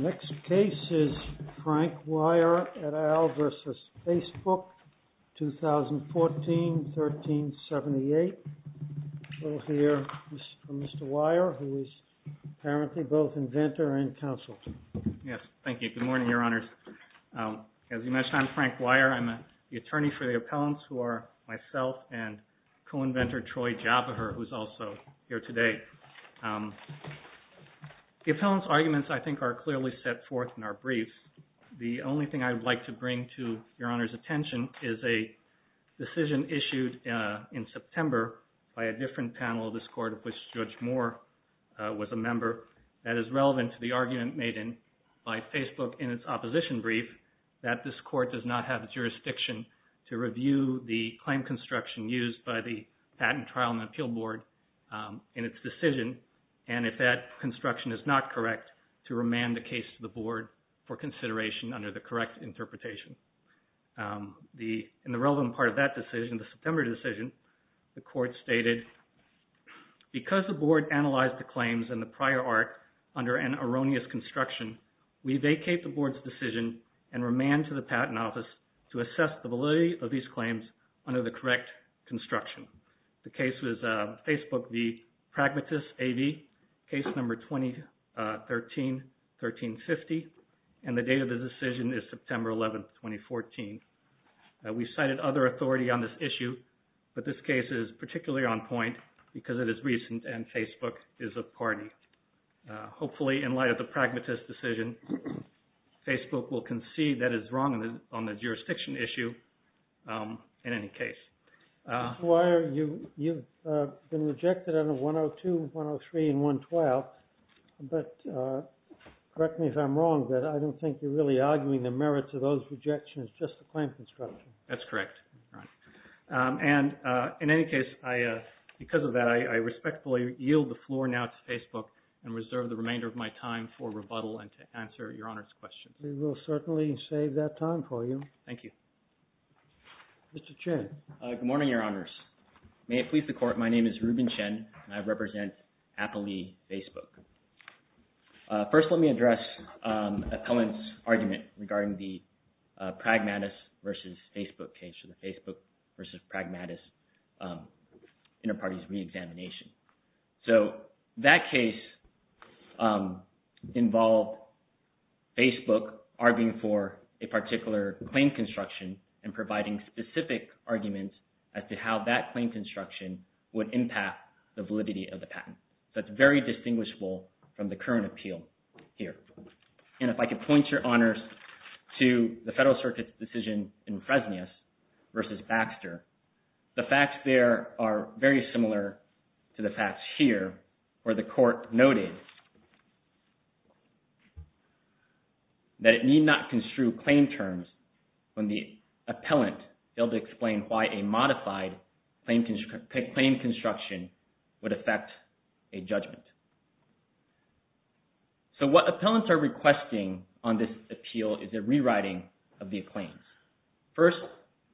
Next case is Frank Weyer et al. v. Facebook, 2014-1378. We'll hear from Mr. Weyer who is apparently both inventor and counsel. Yes, thank you. Good morning, Your Honors. As you mentioned, I'm Frank Weyer. I'm the attorney for the appellants who are myself and co-inventor, Troy Joppa, who is also here today. The appellant's arguments, I think, are clearly set forth in our briefs. The only thing I'd like to bring to Your Honor's attention is a decision issued in September by a different panel of this court of which Judge Moore was a member that is relevant to the argument made by Facebook in its opposition brief that this court does not have jurisdiction to review the claim construction used by the patent trial and appeal board in its decision and if that construction is not correct, to remand the case to the board for consideration under the correct interpretation. In the relevant part of that decision, the September decision, the court stated, because the board analyzed the claims and the prior art under an erroneous construction, we vacate the board's decision and remand to the Patent Office to assess the validity of these claims under the correct construction. The case was Facebook v. Pragmatist AV, case number 2013-1350, and the date of the decision is September 11, 2014. We cited other authority on this issue, but this case is particularly on point because it is recent and Facebook is a party. Hopefully in light of the Pragmatist decision, Facebook will concede that it is wrong on the jurisdiction issue in any case. Why are you, you've been rejected under 102, 103, and 112, but correct me if I'm wrong, but I don't think you're really arguing the merits of those rejections, just the claim construction. That's correct. And in any case, because of that, I respectfully yield the floor now to Facebook and reserve the remainder of my time for rebuttal and to answer Your Honor's questions. We will certainly save that time for you. Thank you. Mr. Chen. Good morning, Your Honors. May it please the Court, my name is Ruben Chen and I represent Appalee Facebook. First, let me address Appellant's argument regarding the Pragmatist versus Facebook case, so the Facebook versus Pragmatist inter-parties re-examination. So that case involved Facebook arguing for a particular claim construction and providing specific arguments as to how that claim construction would impact the validity of the patent. So it's very distinguishable from the current appeal here. And if I could point, Your Honors, to the Federal Circuit's decision in Fresnius versus Baxter, the facts there are very similar to the facts here where the Court noted that it need not construe claim terms when the Appellant failed to explain why a modified claim construction would affect a judgment. So what Appellants are requesting on this appeal is a rewriting of the claims. First,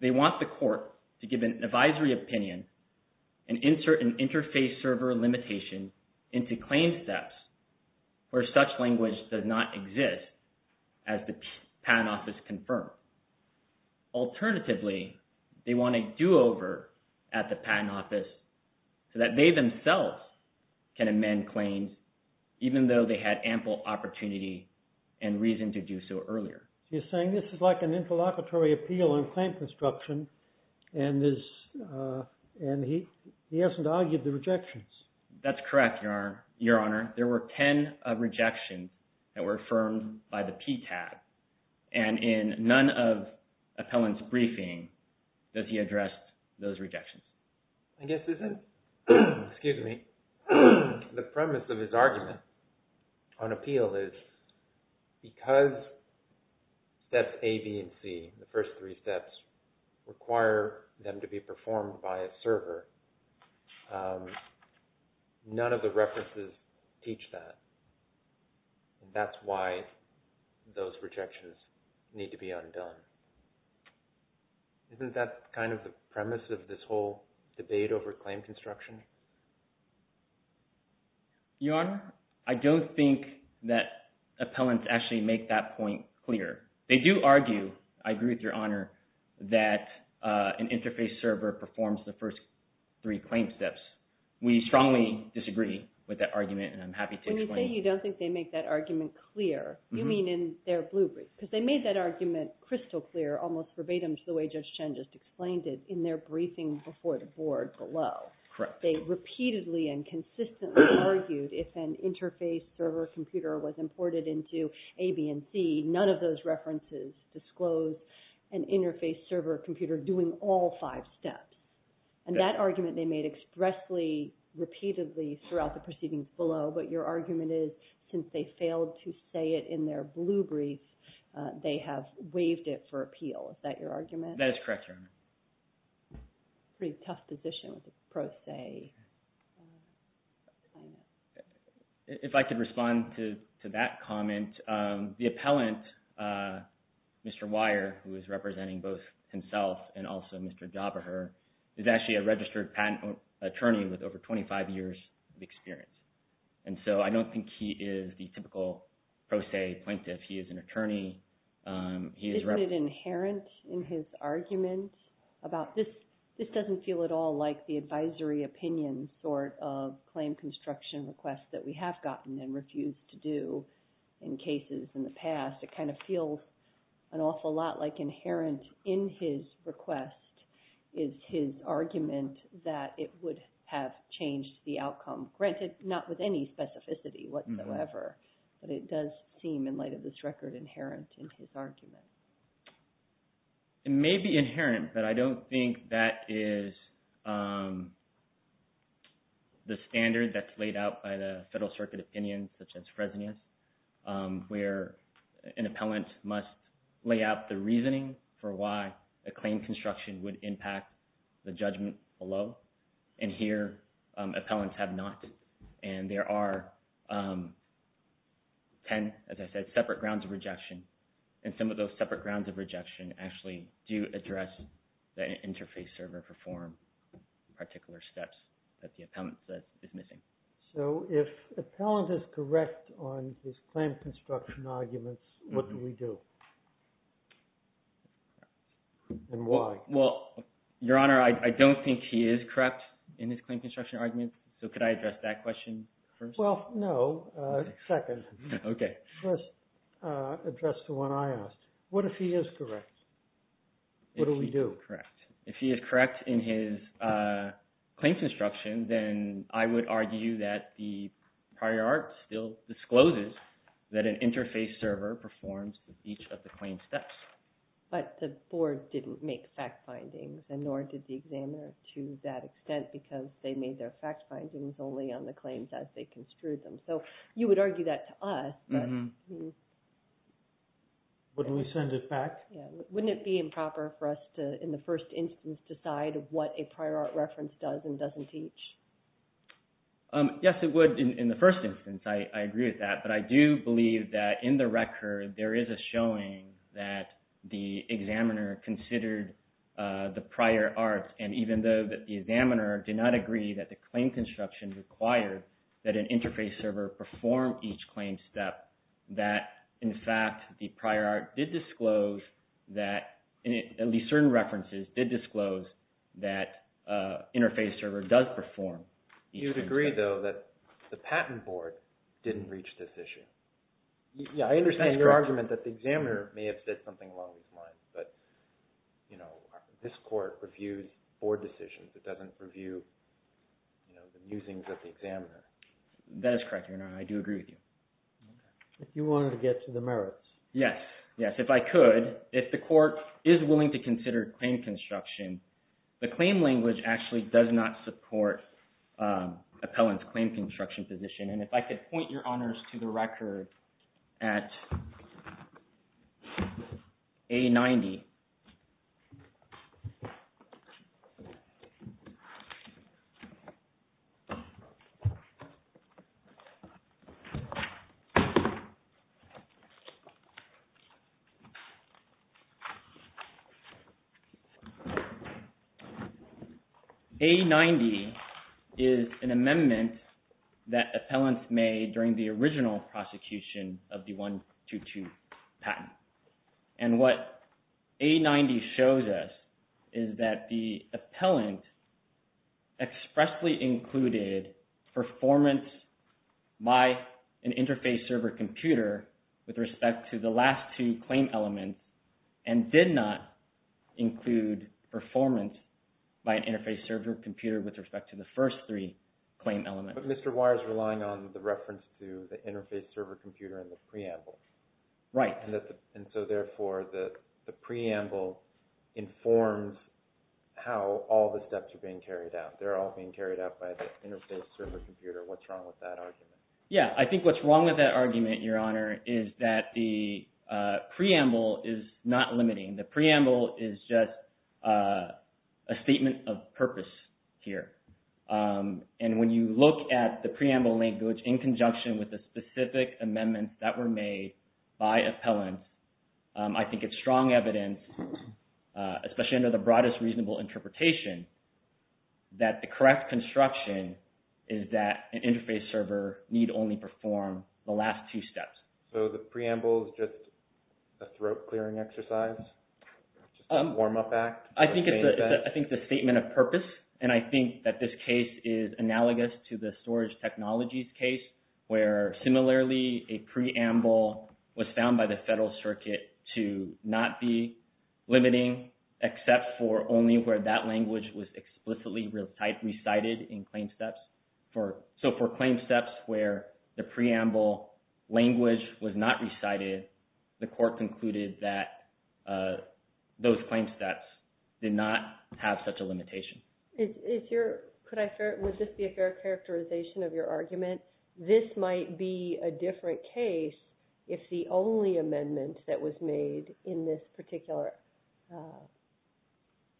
they want the Court to give an advisory opinion and insert an interface server limitation into claim steps where such language does not exist as the Patent Office confirmed. Alternatively, they want a do-over at the Patent Office so that they themselves can amend claims even though they had ample opportunity and reason to do so earlier. You're saying this is like an interlocutory appeal on claim construction and he hasn't argued the rejections. That's correct, Your Honor. There were 10 rejections that were affirmed by the PTAB and in none of Appellant's briefing that he addressed those rejections. I guess isn't, excuse me, the premise of his argument on appeal is because steps A, B, and C, the first three steps, require them to be performed by a server, none of the references teach that and that's why those rejections need to be undone. Isn't that kind of the premise of this whole debate over claim construction? Your Honor, I don't think that Appellants actually make that point clear. They do argue, I agree with Your Honor, that an interface server performs the first three claim steps. We strongly disagree with that argument and I'm happy to explain. When you say you don't think they make that argument clear, you mean in their blue brief because they made that argument crystal clear, almost verbatim, the way Judge Chen just explained it in their briefing before the Board below. Correct. They repeatedly and consistently argued if an interface server computer was imported into A, B, and C, none of those references disclose an interface server computer doing all five steps. And that argument they made expressly, repeatedly throughout the proceedings below, but your argument is since they failed to say it in their blue brief, they have waived it for appeal. Is that your argument? That is correct, Your Honor. Pretty tough position with a pro se. If I could respond to that comment, the Appellant, Mr. Weyer, who is representing both himself and also Mr. Jaberher, is actually a registered patent attorney with over 25 years of experience. And so I don't think he is the typical pro se plaintiff. He is an attorney. Isn't it inherent in his argument about this doesn't feel at all like the advisory opinion sort of claim construction request that we have gotten and refused to do in cases in the past. It kind of feels an awful lot like inherent in his request is his argument that it would have changed the outcome, granted, not with any specificity whatsoever, but it does seem in light of this record inherent in his argument. It may be inherent, but I don't think that is the standard that's laid out by the Federal An appellant must lay out the reasoning for why a claim construction would impact the judgment below. And here, appellants have not. And there are 10, as I said, separate grounds of rejection. And some of those separate grounds of rejection actually do address the interface or perform particular steps that the appellant says is missing. So if the appellant is correct on his claim construction arguments, what do we do? And why? Well, Your Honor, I don't think he is correct in his claim construction argument. So could I address that question first? Well, no. Second. Okay. First, address the one I asked. What if he is correct? What do we do? If he is correct. If he is correct in his claim construction, then I would argue that the prior art still discloses that an interface server performs each of the claim steps. But the board didn't make fact findings, and nor did the examiner to that extent, because they made their fact findings only on the claims as they construed them. So you would argue that to us, but wouldn't it be improper for us to, in the first instance, decide what a prior art reference does and doesn't teach? Yes, it would in the first instance. I agree with that. But I do believe that in the record, there is a showing that the examiner considered the prior arts. And even though the examiner did not agree that the claim construction required that an interface server perform each claim step, that in fact, the prior art did disclose that, at least certain references did disclose that an interface server does perform each claim step. You would agree, though, that the patent board didn't reach this issue? Yes, I understand your argument that the examiner may have said something along these lines, but this court reviews board decisions. It doesn't review the musings of the examiner. That is correct, Your Honor. I do agree with you. If you wanted to get to the merits. Yes. Yes, if I could. If the court is willing to consider claim construction, the claim language actually does not support appellant's claim construction position. And if I could point, Your Honors, to the record at A90. A90 is an amendment that appellants made during the original prosecution of the 1-2-2 patent. And what A90 shows us is that the appellant expressly included performance by an interface server computer with respect to the last two claim elements and did not include performance by an interface server computer with respect to the first three claim elements. But Mr. Wire is relying on the reference to the interface server computer in the preamble. Right. And so therefore, the preamble informs how all the steps are being carried out. They're all being carried out by the interface server computer. What's wrong with that argument? Yeah, I think what's wrong with that argument, Your Honor, is that the preamble is not limiting. The preamble is just a statement of purpose here. And when you look at the preamble language in conjunction with the specific amendments that were made by appellants, I think it's strong evidence, especially under the broadest reasonable interpretation, that the correct construction is that an interface server need only perform the last two steps. So the preamble is just a throat-clearing exercise? Just a warm-up act? I think it's a statement of purpose, and I think that this case is analogous to the storage technologies case where, similarly, a preamble was found by the Federal Circuit to not be limiting except for only where that language was explicitly recited in claim steps. So for claim steps where the preamble language was not recited, the Court concluded that those claim steps did not have such a limitation. Would this be a fair characterization of your argument? This might be a different case if the only amendment that was made in this particular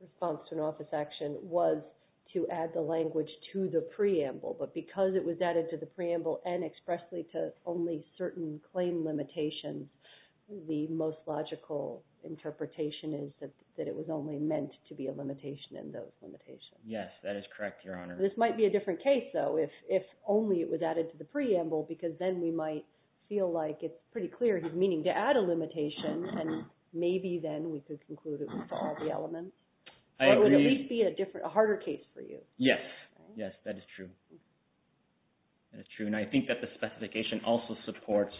response to an office action was to add the language to the preamble. But because it was added to the preamble and expressly to only certain claim limitations, the most logical interpretation is that it was only meant to be a limitation in those limitations. Yes, that is correct, Your Honor. This might be a different case, though, if only it was added to the preamble, because then we might feel like it's pretty clear his meaning to add a limitation, and maybe then we could conclude it with all the elements. I agree. Or it would at least be a harder case for you. Yes, yes, that is true. That is true. And I think that the specification also supports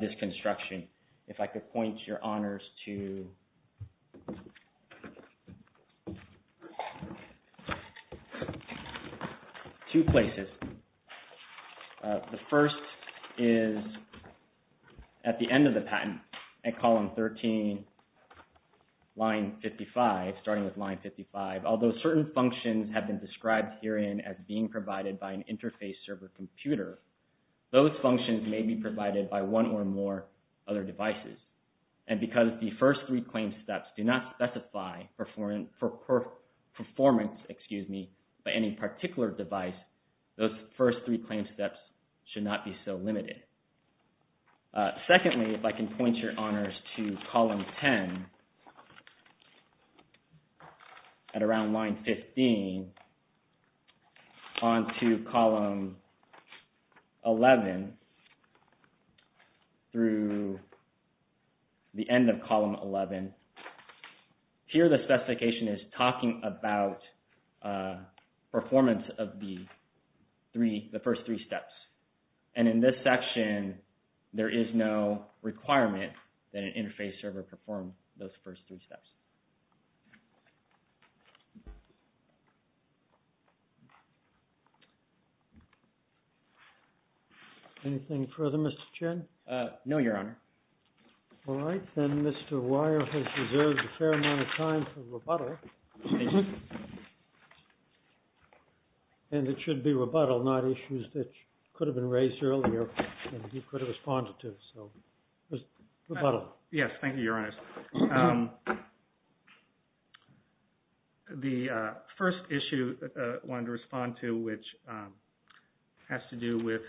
this construction. If I could point, Your Honors, to two places. The first is at the end of the patent, at column 13, line 55, starting with line 55. Although certain functions have been described herein as being provided by an interface server computer, those functions may be provided by one or more other devices. And because the first three claim steps do not specify performance by any particular device, those first three claim steps should not be so limited. Secondly, if I can point, Your Honors, to column 10, at around line 15, on to column 11, through the end of column 11. Here the specification is talking about performance of the first three steps. And in this section, there is no requirement that an interface server perform those first three steps. Anything further, Mr. Chen? No, Your Honor. All right. Then Mr. Weyer has reserved a fair amount of time for rebuttal. Thank you. And it should be rebuttal, not issues that could have been raised earlier and you could have responded to. So, rebuttal. Yes, thank you, Your Honors. The first issue I wanted to respond to, which has to do with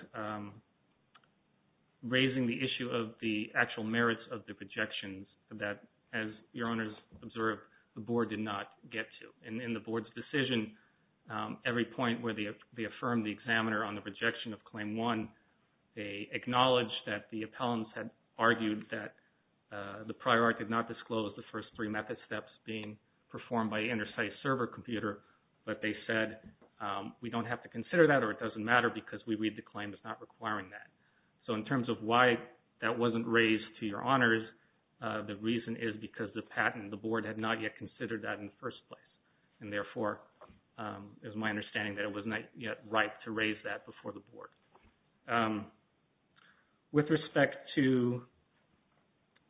raising the issue of the actual merits of the projections, that, as Your Honors observed, the Board did not get to. And in the Board's decision, every point where they affirmed the examiner on the rejection of Claim 1, they acknowledged that the appellants had argued that the prior art did not disclose the first three method steps being performed by an inter-site server computer, but they said, we don't have to consider that or it doesn't matter because we read the claim as not requiring that. So, in terms of why that wasn't raised to Your Honors, the reason is because the patent, the Board had not yet considered that in the first place. And therefore, it was my understanding that it was not yet right to raise that before the Board. With respect to,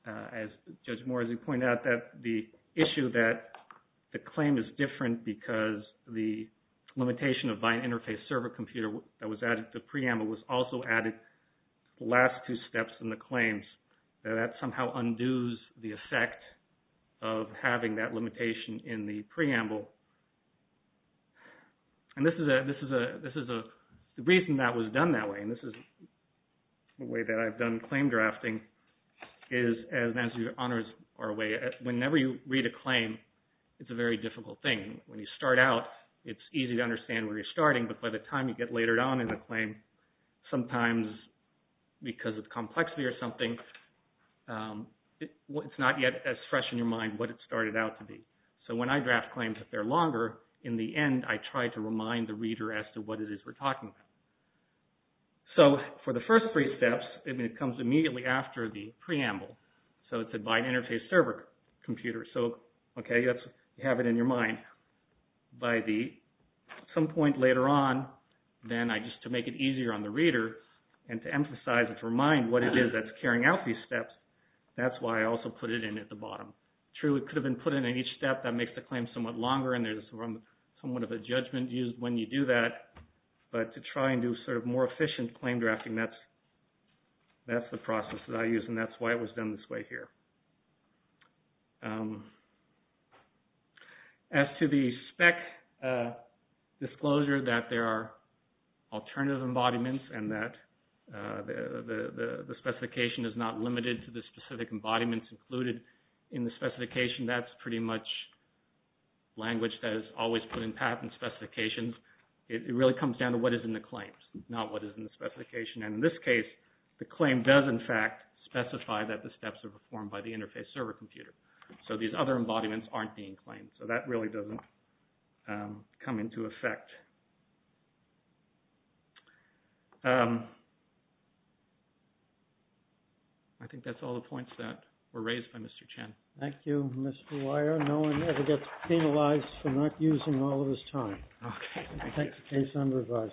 as Judge Morrissey pointed out, that the issue that the claim is different because the limitation of the last two steps in the claims, that that somehow undoes the effect of having that limitation in the preamble. And this is a, the reason that was done that way, and this is the way that I've done claim drafting, is as Your Honors are aware, whenever you read a claim, it's a very difficult thing. When you start out, it's easy to understand where you're starting, but by the time you get later on in the claim, sometimes because of complexity or something, it's not yet as fresh in your mind what it started out to be. So, when I draft claims that they're longer, in the end, I try to remind the reader as to what it is we're talking about. So, for the first three steps, it comes immediately after the preamble. So, it's a bind interface server computer. So, okay, you have it in your mind. By some point later on, then I just, to make it easier on the reader and to emphasize and to remind what it is that's carrying out these steps, that's why I also put it in at the bottom. True, it could have been put in at each step. That makes the claim somewhat longer, and there's somewhat of a judgment used when you do that, but to try and do sort of more efficient claim drafting, that's the process that I use, and that's why it was done this way here. As to the spec disclosure that there are alternative embodiments and that the specification is not limited to the specific embodiments included in the specification, that's pretty much language that is always put in patent specifications. It really comes down to what is in the claims, not what is in the specification. And in this case, the claim does, in fact, specify that the steps are performed by the interface server computer. So, these other embodiments aren't being claimed. So, that really doesn't come into effect. I think that's all the points that were raised by Mr. Chen. Thank you, Mr. Weyer. No one ever gets penalized for not using all of his time. Okay. We'll take the case under review.